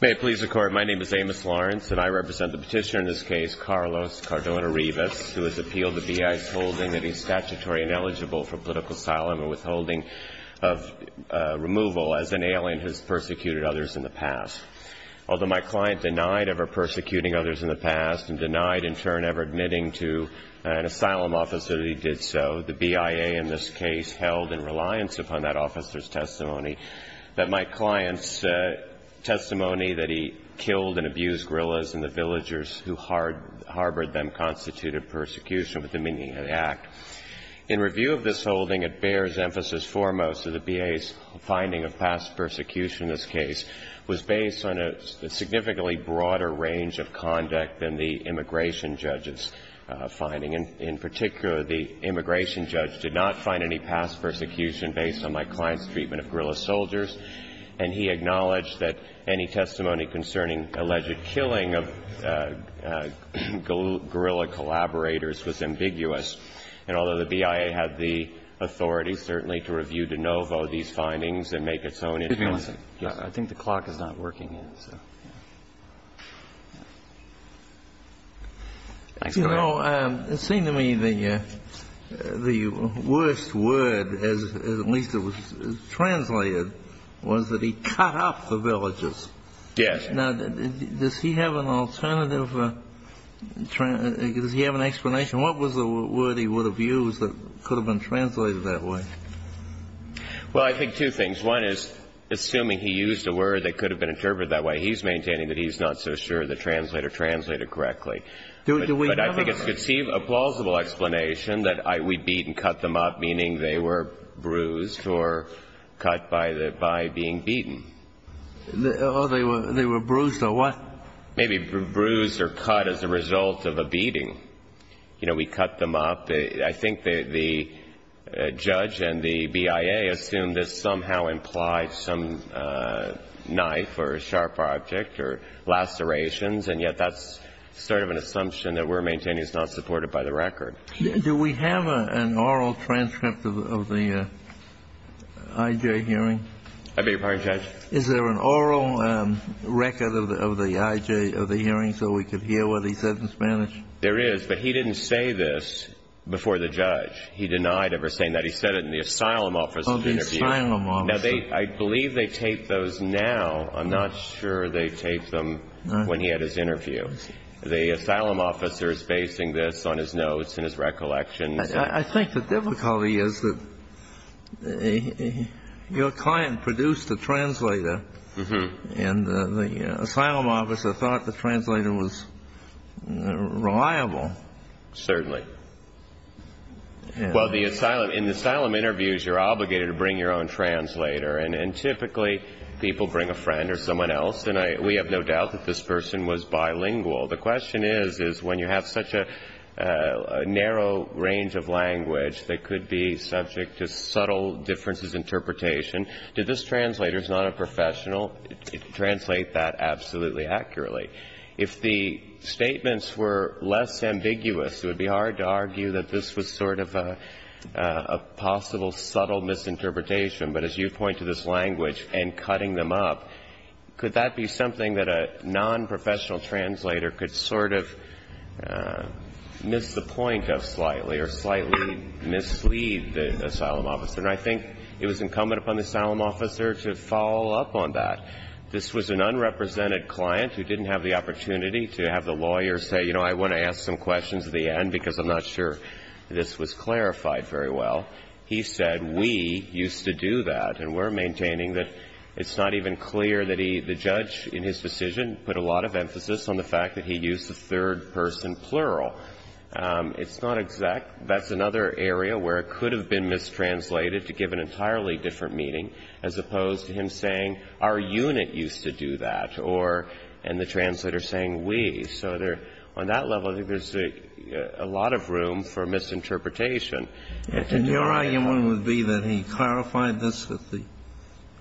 May it please the Court, my name is Amos Lawrence and I represent the petitioner in this case, Carlos Cardona-Rivas, who has appealed the BIA's holding that he is statutory ineligible for political asylum or withholding of removal as an alien who has persecuted others in the past. Although my client denied ever persecuting others in the past and denied in turn ever admitting to an asylum officer that he did so, the BIA in this case held in reliance upon that officer's testimony that my client's testimony that he killed and abused gorillas and the villagers who harbored them constituted persecution with the meaning of the act. In review of this holding, it bears emphasis foremost that the BIA's finding of past persecution in this case was based on a significantly broader range of conduct than the immigration judge's finding. In particular, the immigration judge did not find any past persecution based on my client's treatment of gorilla soldiers, and he acknowledged that any testimony concerning alleged killing of gorilla collaborators was ambiguous. And although the BIA had the authority, certainly, to review de novo these findings and make its own interpretation. I think the clock is not working yet, so. You know, it seemed to me the worst word, as at least it was translated, was that he cut off the villagers. Yes. Now, does he have an alternative or does he have an explanation? What was the word he would have used that could have been translated that way? Well, I think two things. One is, assuming he used a word that could have been interpreted that way, he's maintaining that he's not so sure the translator translated correctly. But I think it's a plausible explanation that we beat and cut them up, meaning they were bruised or cut by being beaten. Oh, they were bruised or what? Maybe bruised or cut as a result of a beating. You know, we cut them up. I think the judge and the BIA assumed this somehow implied some knife or sharp object or lacerations, and yet that's sort of an assumption that we're maintaining is not supported by the record. Do we have an oral transcript of the IJ hearing? I beg your pardon, Judge? Is there an oral record of the IJ, of the hearing, so we could hear what he said in Spanish? There is, but he didn't say this before the judge. He denied ever saying that. He said it in the asylum officer's interview. Oh, the asylum officer. Now, I believe they tape those now. I'm not sure they taped them when he had his interview. The asylum officer is basing this on his notes and his recollections. I think the difficulty is that your client produced a translator, and the asylum officer thought the translator was reliable. Certainly. Well, in asylum interviews, you're obligated to bring your own translator, and typically people bring a friend or someone else, and we have no doubt that this person was bilingual. The question is, is when you have such a narrow range of language that could be subject to subtle differences in interpretation, did this translator, who's not a professional, translate that absolutely accurately? If the statements were less ambiguous, it would be hard to argue that this was sort of a possible subtle misinterpretation, but as you point to this language and cutting them up, could that be something that a nonprofessional translator could sort of miss the point of slightly or slightly mislead the asylum officer? And I think it was incumbent upon the asylum officer to follow up on that. This was an unrepresented client who didn't have the opportunity to have the lawyer say, you know, I want to ask some questions at the end because I'm not sure this was clarified very well. He said, we used to do that. And we're maintaining that it's not even clear that he, the judge in his decision, put a lot of emphasis on the fact that he used the third person plural. It's not exact. That's another area where it could have been mistranslated to give an entirely different meaning, as opposed to him saying, our unit used to do that, or, and the translator saying, we. So there, on that level, I think there's a lot of room for misinterpretation. And your argument would be that he clarified this at the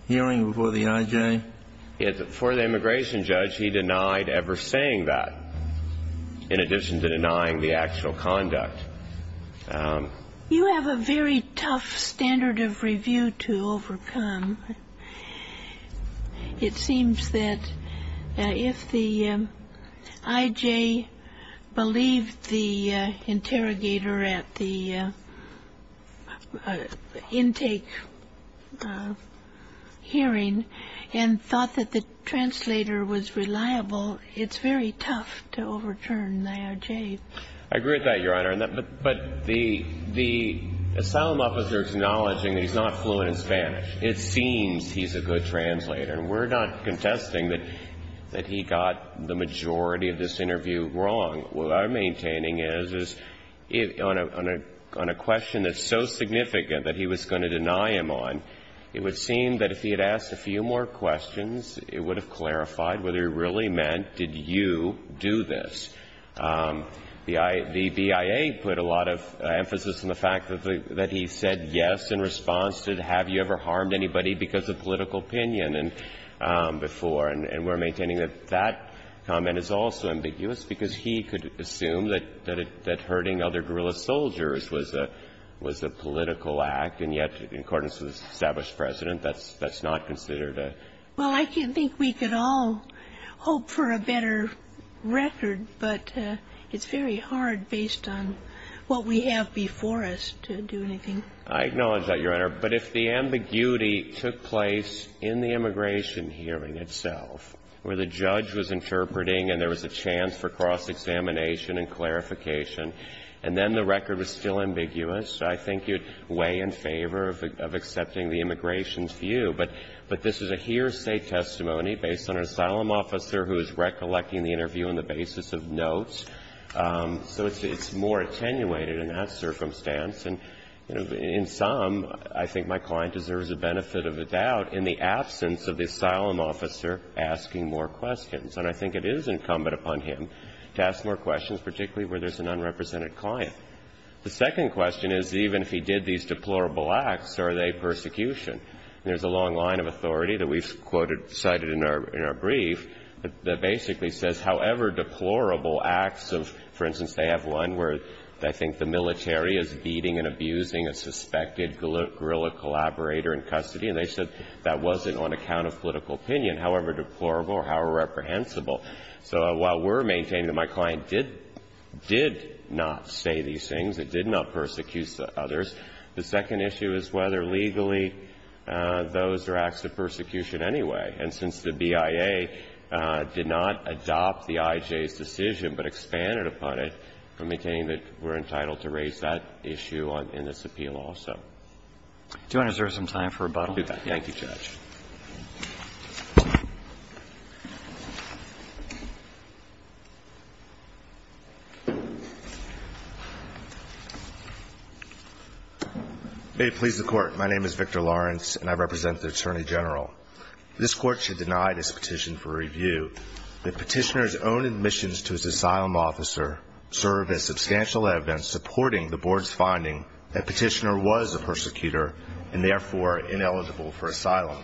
hearing before the I.J.? Yes. Before the immigration judge, he denied ever saying that, in addition to denying the actual conduct. You have a very tough standard of review to overcome. It seems that if the I.J. believed the interrogator at the intake hearing and thought that the translator was reliable, it's very tough to overturn the I.J. I agree with that, Your Honor. But the asylum officer is acknowledging that he's not fluent in Spanish. It seems he's a good translator. And we're not contesting that he got the majority of this interview wrong. What I'm maintaining is, on a question that's so significant that he was going to deny him on, it would seem that if he had asked a few more questions, it would have clarified whether it really meant, did you do this? The BIA put a lot of emphasis on the fact that he said yes in response to, have you ever harmed anybody because of political opinion before? And we're maintaining that that comment is also ambiguous because he could assume that hurting other guerrilla soldiers was a political act. And yet, in accordance with the established precedent, that's not considered a ---- But it's very hard based on what we have before us to do anything. I acknowledge that, Your Honor. But if the ambiguity took place in the immigration hearing itself, where the judge was interpreting and there was a chance for cross-examination and clarification and then the record was still ambiguous, I think you'd weigh in favor of accepting the immigration's view. But this is a hearsay testimony based on an asylum officer who is recollecting the interview on the basis of notes. So it's more attenuated in that circumstance. And in sum, I think my client deserves the benefit of the doubt in the absence of the asylum officer asking more questions. And I think it is incumbent upon him to ask more questions, particularly where there's an unrepresented client. The second question is, even if he did these deplorable acts, are they persecution? And there's a long line of authority that we've quoted, cited in our brief that basically says, however deplorable acts of ---- for instance, they have one where they think the military is beating and abusing a suspected guerrilla collaborator in custody, and they said that wasn't on account of political opinion, however deplorable or how reprehensible. So while we're maintaining that my client did not say these things, it did not persecute others, the second issue is whether legally those are acts of persecution anyway. And since the BIA did not adopt the IJ's decision but expanded upon it, we're maintaining that we're entitled to raise that issue in this appeal also. Do I deserve some time for rebuttal? Thank you, Judge. May it please the Court, my name is Victor Lawrence, and I represent the Attorney General. This Court should deny this petition for review. The petitioner's own admissions to his asylum officer serve as substantial evidence supporting the Board's finding that the petitioner was a persecutor and therefore ineligible for asylum.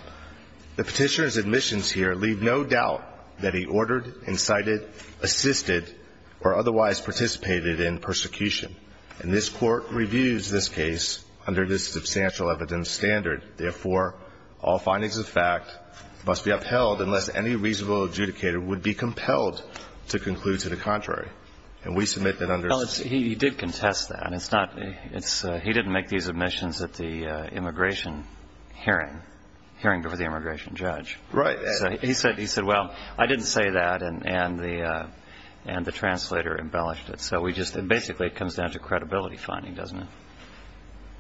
The petitioner's admissions here leave no doubt that he ordered, incited, assisted or otherwise participated in persecution. And this Court reviews this case under this substantial evidence standard. Therefore, all findings of fact must be upheld unless any reasonable adjudicator would be compelled to conclude to the contrary. And we submit that under ---- Well, he did contest that. He didn't make these admissions at the immigration hearing, hearing before the immigration judge. Right. He said, well, I didn't say that, and the translator embellished it. So we just basically it comes down to credibility finding, doesn't it?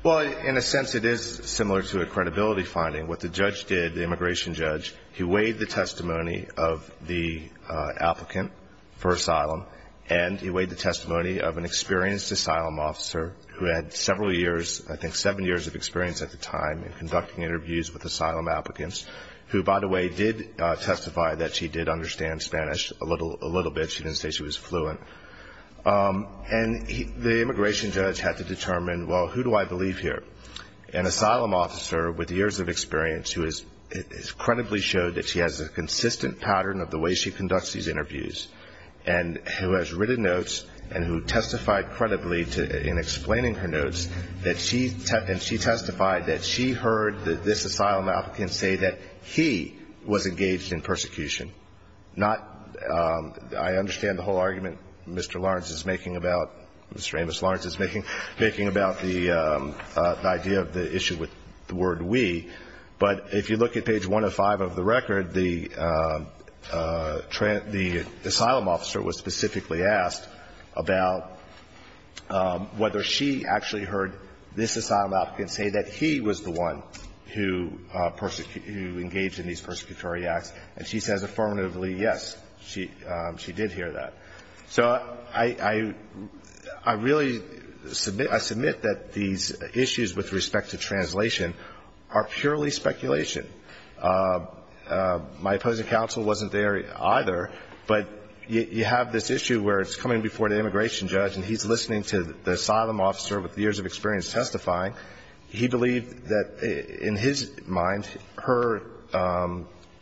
Well, in a sense it is similar to a credibility finding. What the judge did, the immigration judge, he weighed the testimony of the several years, I think seven years of experience at the time in conducting interviews with asylum applicants who, by the way, did testify that she did understand Spanish a little bit. She didn't say she was fluent. And the immigration judge had to determine, well, who do I believe here? An asylum officer with years of experience who has credibly showed that she has a consistent pattern of the way she conducts these interviews and who has written her notes and who testified credibly in explaining her notes, and she testified that she heard this asylum applicant say that he was engaged in persecution, not ---- I understand the whole argument Mr. Lawrence is making about, Mr. Amos Lawrence is making, making about the idea of the issue with the word we, but if you look at page 105 of the record, the asylum officer was specifically asked, about whether she actually heard this asylum applicant say that he was the one who engaged in these persecutory acts. And she says affirmatively, yes, she did hear that. So I really submit that these issues with respect to translation are purely speculation. My opposing counsel wasn't there either, but you have this issue where it's coming before the immigration judge and he's listening to the asylum officer with years of experience testifying, he believed that in his mind, her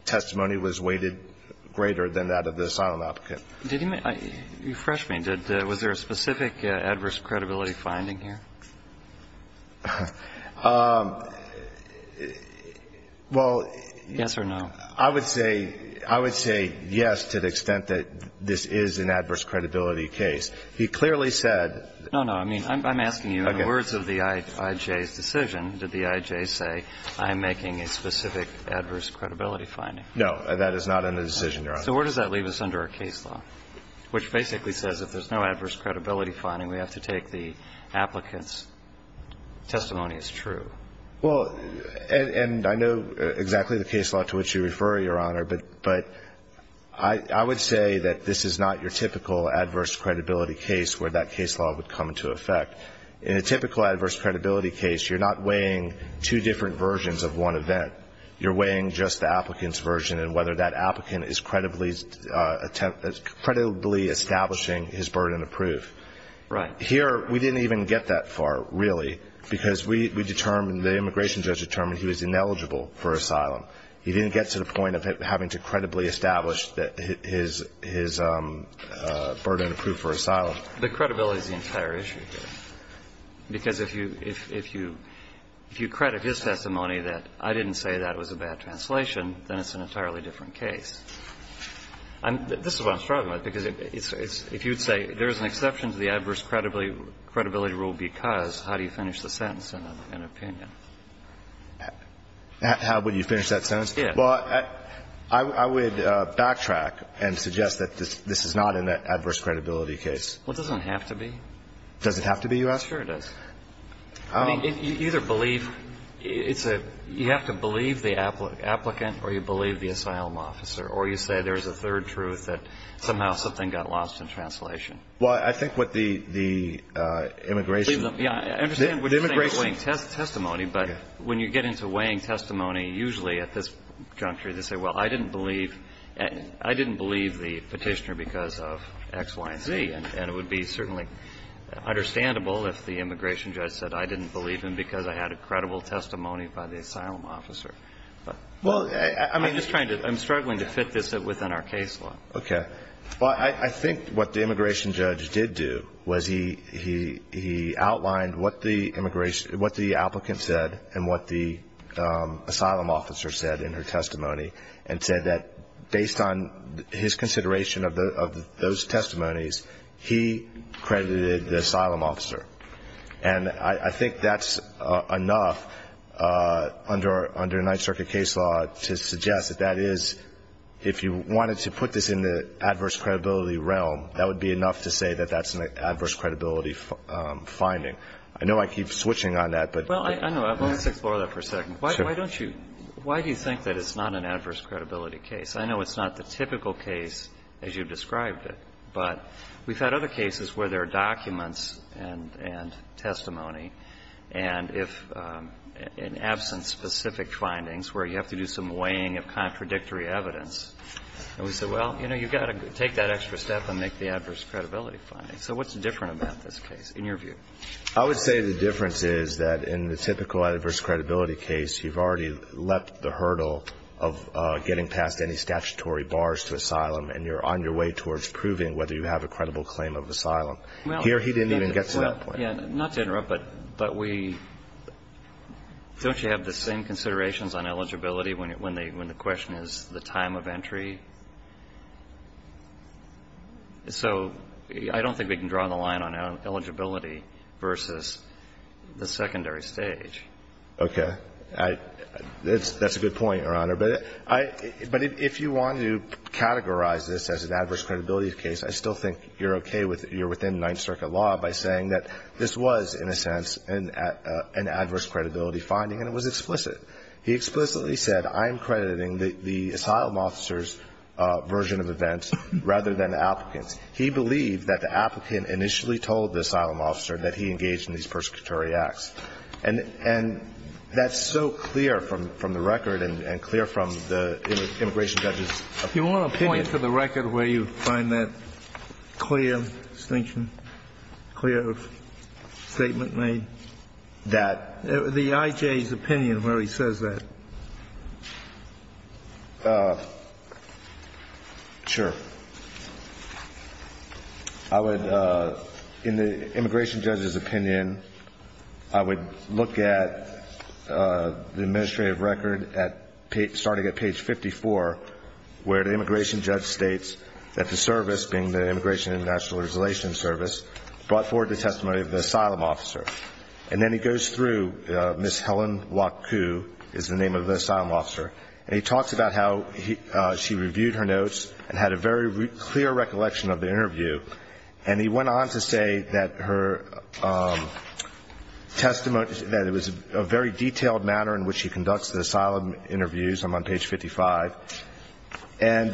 testimony was weighted greater than that of the asylum applicant. Did he make ---- refresh me. Was there a specific adverse credibility finding here? Well ---- Yes or no. I would say, I would say yes to the extent that this is an adverse credibility case. He clearly said ---- No, no. I mean, I'm asking you, in the words of the IJ's decision, did the IJ say, I'm making a specific adverse credibility finding? No. That is not in the decision, Your Honor. So where does that leave us under our case law, which basically says if there's no adverse credibility finding, we have to take the applicant's testimony as true? Well, and I know exactly the case law to which you refer, Your Honor, but I would say that this is not your typical adverse credibility case where that case law would come into effect. In a typical adverse credibility case, you're not weighing two different versions of one event. You're weighing just the applicant's version and whether that applicant is credibly establishing his burden of proof. Right. Here, we didn't even get that far, really, because we determined, the immigration judge determined he was ineligible for asylum. He didn't get to the point of having to credibly establish his burden of proof for asylum. The credibility is the entire issue here, because if you ---- if you credit his testimony that I didn't say that was a bad translation, then it's an entirely different case. This is what I'm struggling with, because if you would say there is an exception to the adverse credibility rule because, how do you finish the sentence in an opinion? How would you finish that sentence? Yes. Well, I would backtrack and suggest that this is not an adverse credibility case. Well, it doesn't have to be. Does it have to be, you ask? Sure, it does. I mean, you either believe it's a ---- you have to believe the applicant or you believe the asylum officer, or you say there is a third truth that somehow something got lost in translation. Well, I think what the immigration ---- I understand what you're saying about weighing testimony, but when you get into weighing testimony, usually at this juncture, they say, well, I didn't believe the Petitioner because of X, Y, and Z. And it would be certainly understandable if the immigration judge said I didn't believe him because I had a credible testimony by the asylum officer. Well, I mean ---- I'm just trying to ---- I'm struggling to fit this within our case law. Okay. Well, I think what the immigration judge did do was he outlined what the immigration ---- what the applicant said and what the asylum officer said in her testimony, and said that based on his consideration of those testimonies, he credited the asylum officer. And I think that's enough under Ninth Circuit case law to suggest that that is, if you wanted to put this in the adverse credibility realm, that would be enough to say that that's an adverse credibility finding. I know I keep switching on that, but ---- Well, I know. Let's explore that for a second. Sure. Why don't you ---- why do you think that it's not an adverse credibility case? I know it's not the typical case as you've described it, but we've had other cases where there are documents and testimony, and if in absence of specific findings where you have to do some weighing of contradictory evidence, and we say, well, you know, you've got to take that extra step and make the adverse credibility finding. So what's different about this case, in your view? I would say the difference is that in the typical adverse credibility case, you've already leapt the hurdle of getting past any statutory bars to asylum, and you're on your way towards proving whether you have a credible claim of asylum. Here, he didn't even get to that point. Not to interrupt, but we ---- don't you have the same considerations on eligibility when the question is the time of entry? So I don't think we can draw the line on eligibility versus the secondary stage. Okay. That's a good point, Your Honor. But if you want to categorize this as an adverse credibility case, I still think you're within Ninth Circuit law by saying that this was, in a sense, an adverse credibility finding, and it was explicit. He explicitly said, I am crediting the asylum officer's version of events rather than the applicant's. He believed that the applicant initially told the asylum officer that he engaged in these persecutory acts. And that's so clear from the record and clear from the immigration judge's opinion. Do you want to point to the record where you find that clear statement made? That? The I.J.'s opinion where he says that. Sure. I would, in the immigration judge's opinion, I would look at the administrative record starting at page 54, where the immigration judge states that the service, being the Immigration and National Registration Service, brought forward the testimony of the asylum officer. And then he goes through Ms. Helen Waku is the name of the asylum officer. And he talks about how she reviewed her notes and had a very clear recollection of the interview. And he went on to say that her testimony, that it was a very detailed matter in which he conducts the asylum interviews. I'm on page 55. And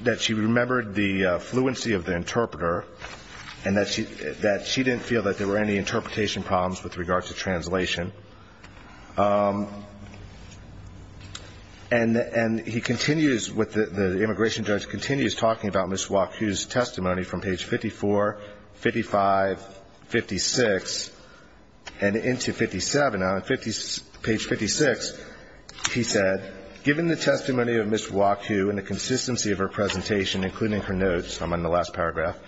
that she remembered the fluency of the interpreter and that she didn't feel that there were any interpretation problems with regard to translation. And he continues with the immigration judge continues talking about Ms. Waku's testimony from page 54, 55, 56, and into 57. Now, on page 56, he said, given the testimony of Ms. Waku and the consistency of her presentation, including her notes, I'm on the last paragraph,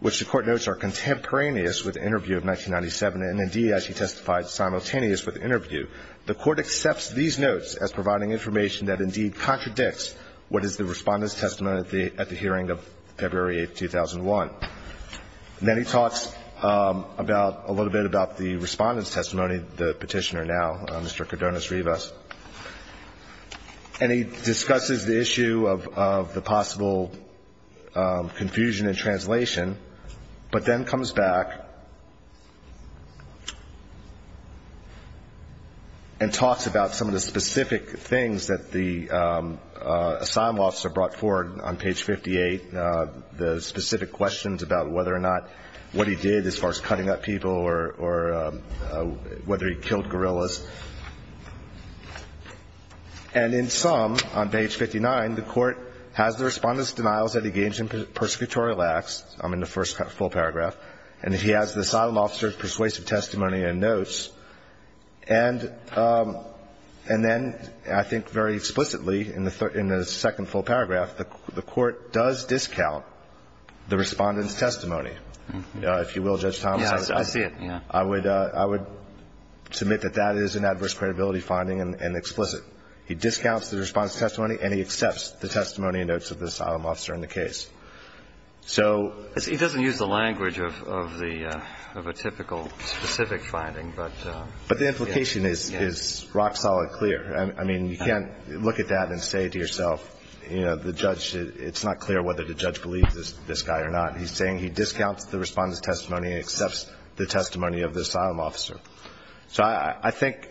which the Court notes are contemporaneous with the interview of 1997, and, indeed, as she testified simultaneous with the interview, the Court accepts these notes as providing information that, indeed, contradicts what is the Respondent's testimony at the hearing of February 8, 2001. And then he talks about, a little bit about the Respondent's testimony, the petitioner now, Mr. Cardones-Rivas. And he discusses the issue of the possible confusion in translation, but then comes back and talks about some of the specific things that the asylum officer brought forward on page 58, the specific questions about whether or not what he did as far as cutting up people or whether he killed gorillas. And in sum, on page 59, the Court has the Respondent's denials that he gains in persecutorial acts, in the first full paragraph, and he has the asylum officer's persuasive testimony and notes. And then I think very explicitly in the second full paragraph, the Court does discount the Respondent's testimony, if you will, Judge Thomas. Yes. I see it. Yes. I would submit that that is an adverse credibility finding and explicit. He discounts the Respondent's testimony and he accepts the testimony and notes of the asylum officer in the case. So he doesn't use the language of the typical specific finding, but he does use the But the implication is rock-solid clear. I mean, you can't look at that and say to yourself, you know, it's not clear whether the judge believes this guy or not. He's saying he discounts the Respondent's testimony and accepts the testimony of the asylum officer. So I think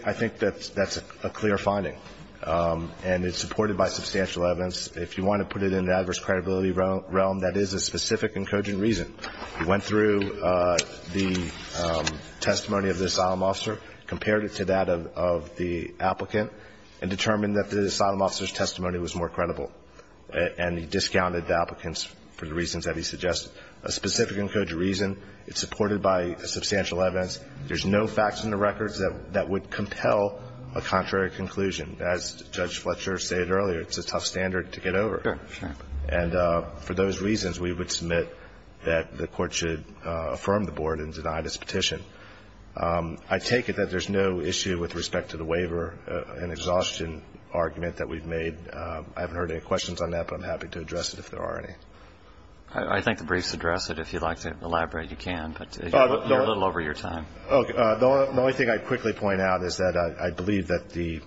that's a clear finding, and it's supported by substantial evidence. If you want to put it in the adverse credibility realm, that is a specific and cogent reason. He went through the testimony of the asylum officer, compared it to that of the applicant, and determined that the asylum officer's testimony was more credible. And he discounted the applicant's for the reasons that he suggested, a specific and cogent reason. It's supported by substantial evidence. There's no facts in the records that would compel a contrary conclusion. As Judge Fletcher stated earlier, it's a tough standard to get over. Sure. And for those reasons, we would submit that the Court should affirm the Board and deny this petition. I take it that there's no issue with respect to the waiver, an exhaustion argument that we've made. I haven't heard any questions on that, but I'm happy to address it if there are any. I think the briefs address it. If you'd like to elaborate, you can, but you're a little over your time. Okay. The only thing I'd quickly point out is that I believe that the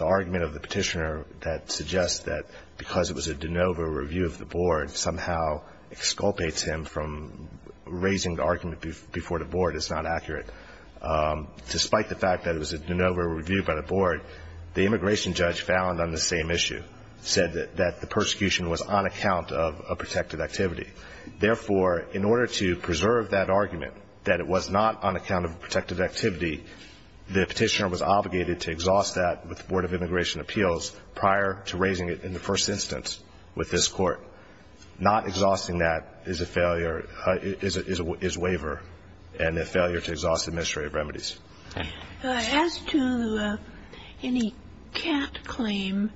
argument of the Board that because it was a de novo review of the Board somehow exculpates him from raising the argument before the Board is not accurate. Despite the fact that it was a de novo review by the Board, the immigration judge found on the same issue, said that the persecution was on account of a protected activity. Therefore, in order to preserve that argument, that it was not on account of a protected activity, the Petitioner was obligated to exhaust that with the Board of Immigration in the first instance with this Court. Not exhausting that is a failure, is a waiver and a failure to exhaust administrative remedies. As to any cat claim,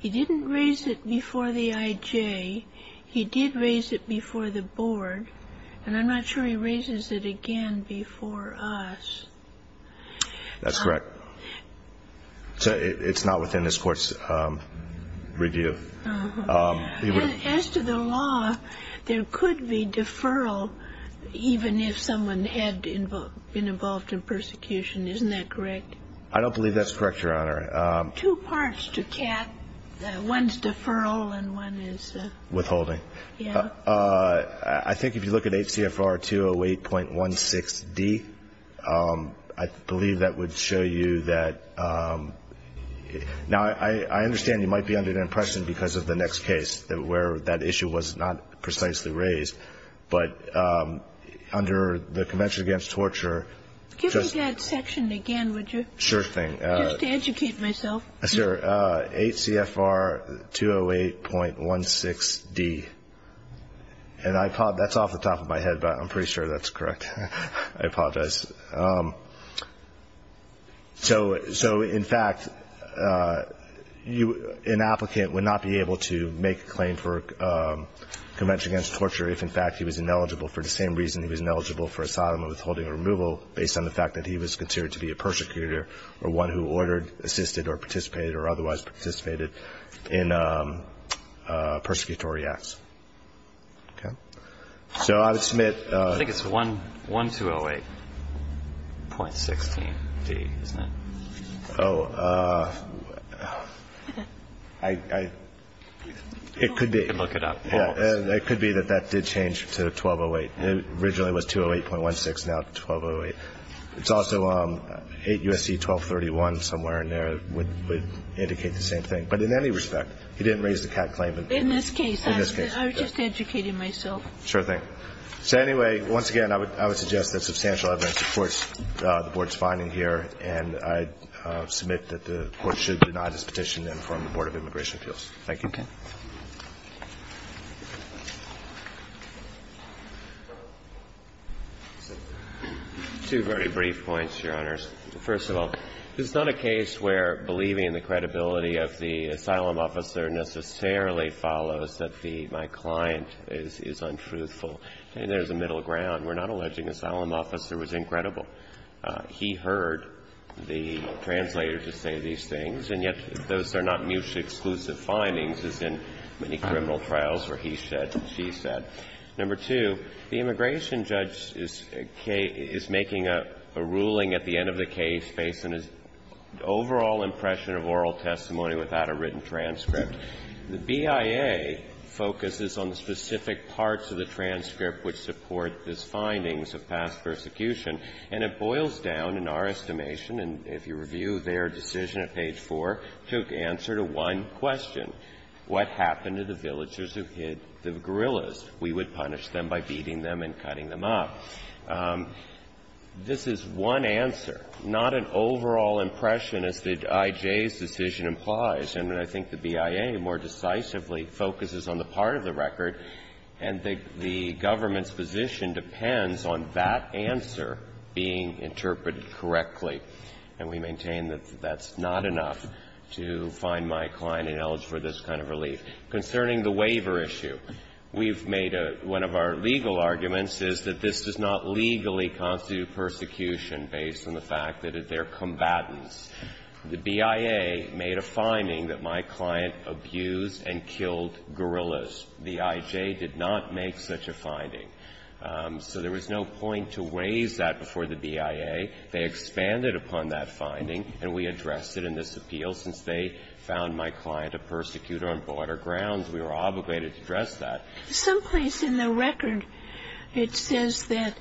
he didn't raise it before the IJ. He did raise it before the Board, and I'm not sure he raises it again before us. That's correct. So it's not within this Court's review. As to the law, there could be deferral even if someone had been involved in persecution. Isn't that correct? I don't believe that's correct, Your Honor. Two parts to cat. One's deferral and one is the... Withholding. Yeah. I think if you look at HCFR 208.16d, I believe that would show you that now, I understand you might be under the impression because of the next case where that issue was not precisely raised, but under the Convention Against Torture... Give me that section again, would you? Sure thing. Just to educate myself. Yes, sir. HCFR 208.16d. And that's off the top of my head, but I'm pretty sure that's correct. I apologize. So, in fact, an applicant would not be able to make a claim for Convention Against Torture if, in fact, he was ineligible for the same reason he was ineligible for asylum and withholding or removal based on the fact that he was considered to be a persecutor or one who ordered, assisted or participated or otherwise participated in persecutory acts. Okay? So I would submit... I think it's 1208.16d, isn't it? Oh, I... It could be. You can look it up. It could be that that did change to 1208. It originally was 208.16, now it's 1208. It's also 8 U.S.C. 1231, somewhere in there, would indicate the same thing. But in any respect, he didn't raise the CAD claim. In this case, I was just educating myself. Sure thing. So, anyway, once again, I would suggest that substantial evidence supports the Board's finding here, and I submit that the Court should deny this petition and inform the Board of Immigration Appeals. Thank you. Okay. Two very brief points, Your Honors. First of all, this is not a case where believing in the credibility of the asylum officer necessarily follows that my client is untruthful. I mean, there's a middle ground. We're not alleging the asylum officer was incredible. He heard the translator just say these things, and yet those are not mutually exclusive findings, as in many criminal trials where he said and she said. Number two, the immigration judge is making a ruling at the end of the case based on his overall impression of oral testimony without a written transcript. The BIA focuses on the specific parts of the transcript which support his findings of past persecution, and it boils down, in our estimation, and if you review their decision at page 4, took answer to one question. What happened to the villagers who hid the gorillas? We would punish them by beating them and cutting them up. This is one answer, not an overall impression as the IJ's decision implies. And I think the BIA more decisively focuses on the part of the record, and the government's position depends on that answer being interpreted correctly. And we maintain that that's not enough to find my client ineligible for this kind of relief. Concerning the waiver issue, we've made one of our legal arguments is that this does not legally constitute persecution based on the fact that they're combatants. The BIA made a finding that my client abused and killed gorillas. The IJ did not make such a finding. So there was no point to raise that before the BIA. They expanded upon that finding, and we addressed it in this appeal. Since they found my client a persecutor and bought her grounds, we were obligated to address that. Some place in the record, it says that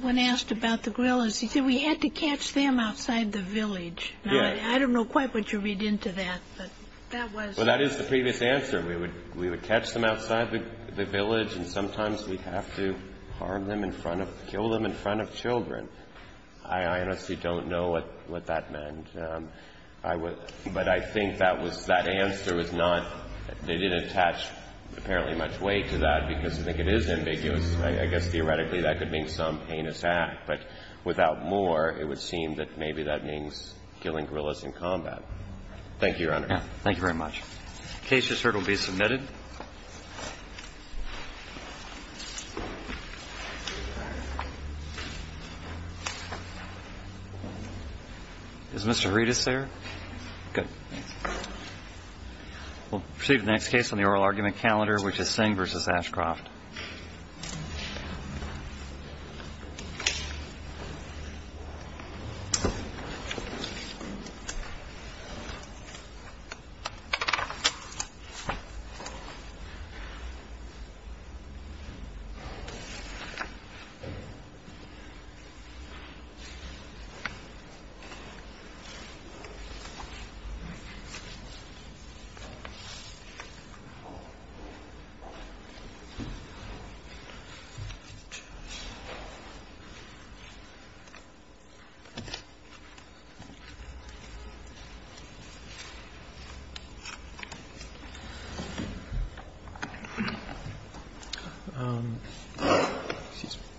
when asked about the gorillas, he said we had to catch them outside the village. Yes. I don't know quite what you read into that, but that was the case. Well, that is the previous answer. We would catch them outside the village, and sometimes we'd have to harm them in front of them, kill them in front of children. I honestly don't know what that meant. I would – but I think that was – that answer was not – they didn't attach apparently much weight to that, because I think it is ambiguous. I guess theoretically that could mean some heinous act. But without more, it would seem that maybe that means killing gorillas in combat. Thank you, Your Honor. Thank you very much. The case just heard will be submitted. Is Mr. Redis there? Good. We'll proceed to the next case on the oral argument calendar, which is Singh v. Ashcroft. Thank you.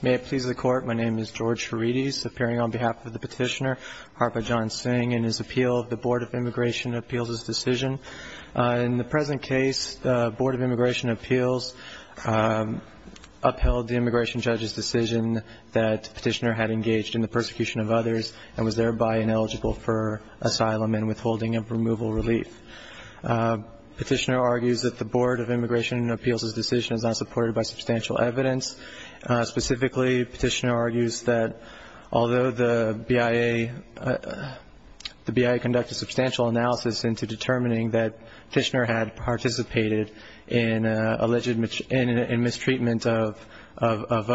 May it please the Court. My name is George Redis, appearing on behalf of the Petitioner Harper John Singh and his appeal of the Board of Immigration Appeals' decision. In the present case, the Board of Immigration Appeals upheld the immigration judge's decision that Petitioner had engaged in the persecution of others and was thereby ineligible for asylum and withholding of removal relief. Petitioner argues that the Board of Immigration Appeals' decision is not supported by substantial evidence. Specifically, Petitioner argues that although the BIA conducted substantial analysis into determining that Petitioner had participated in alleged mistreatment of others,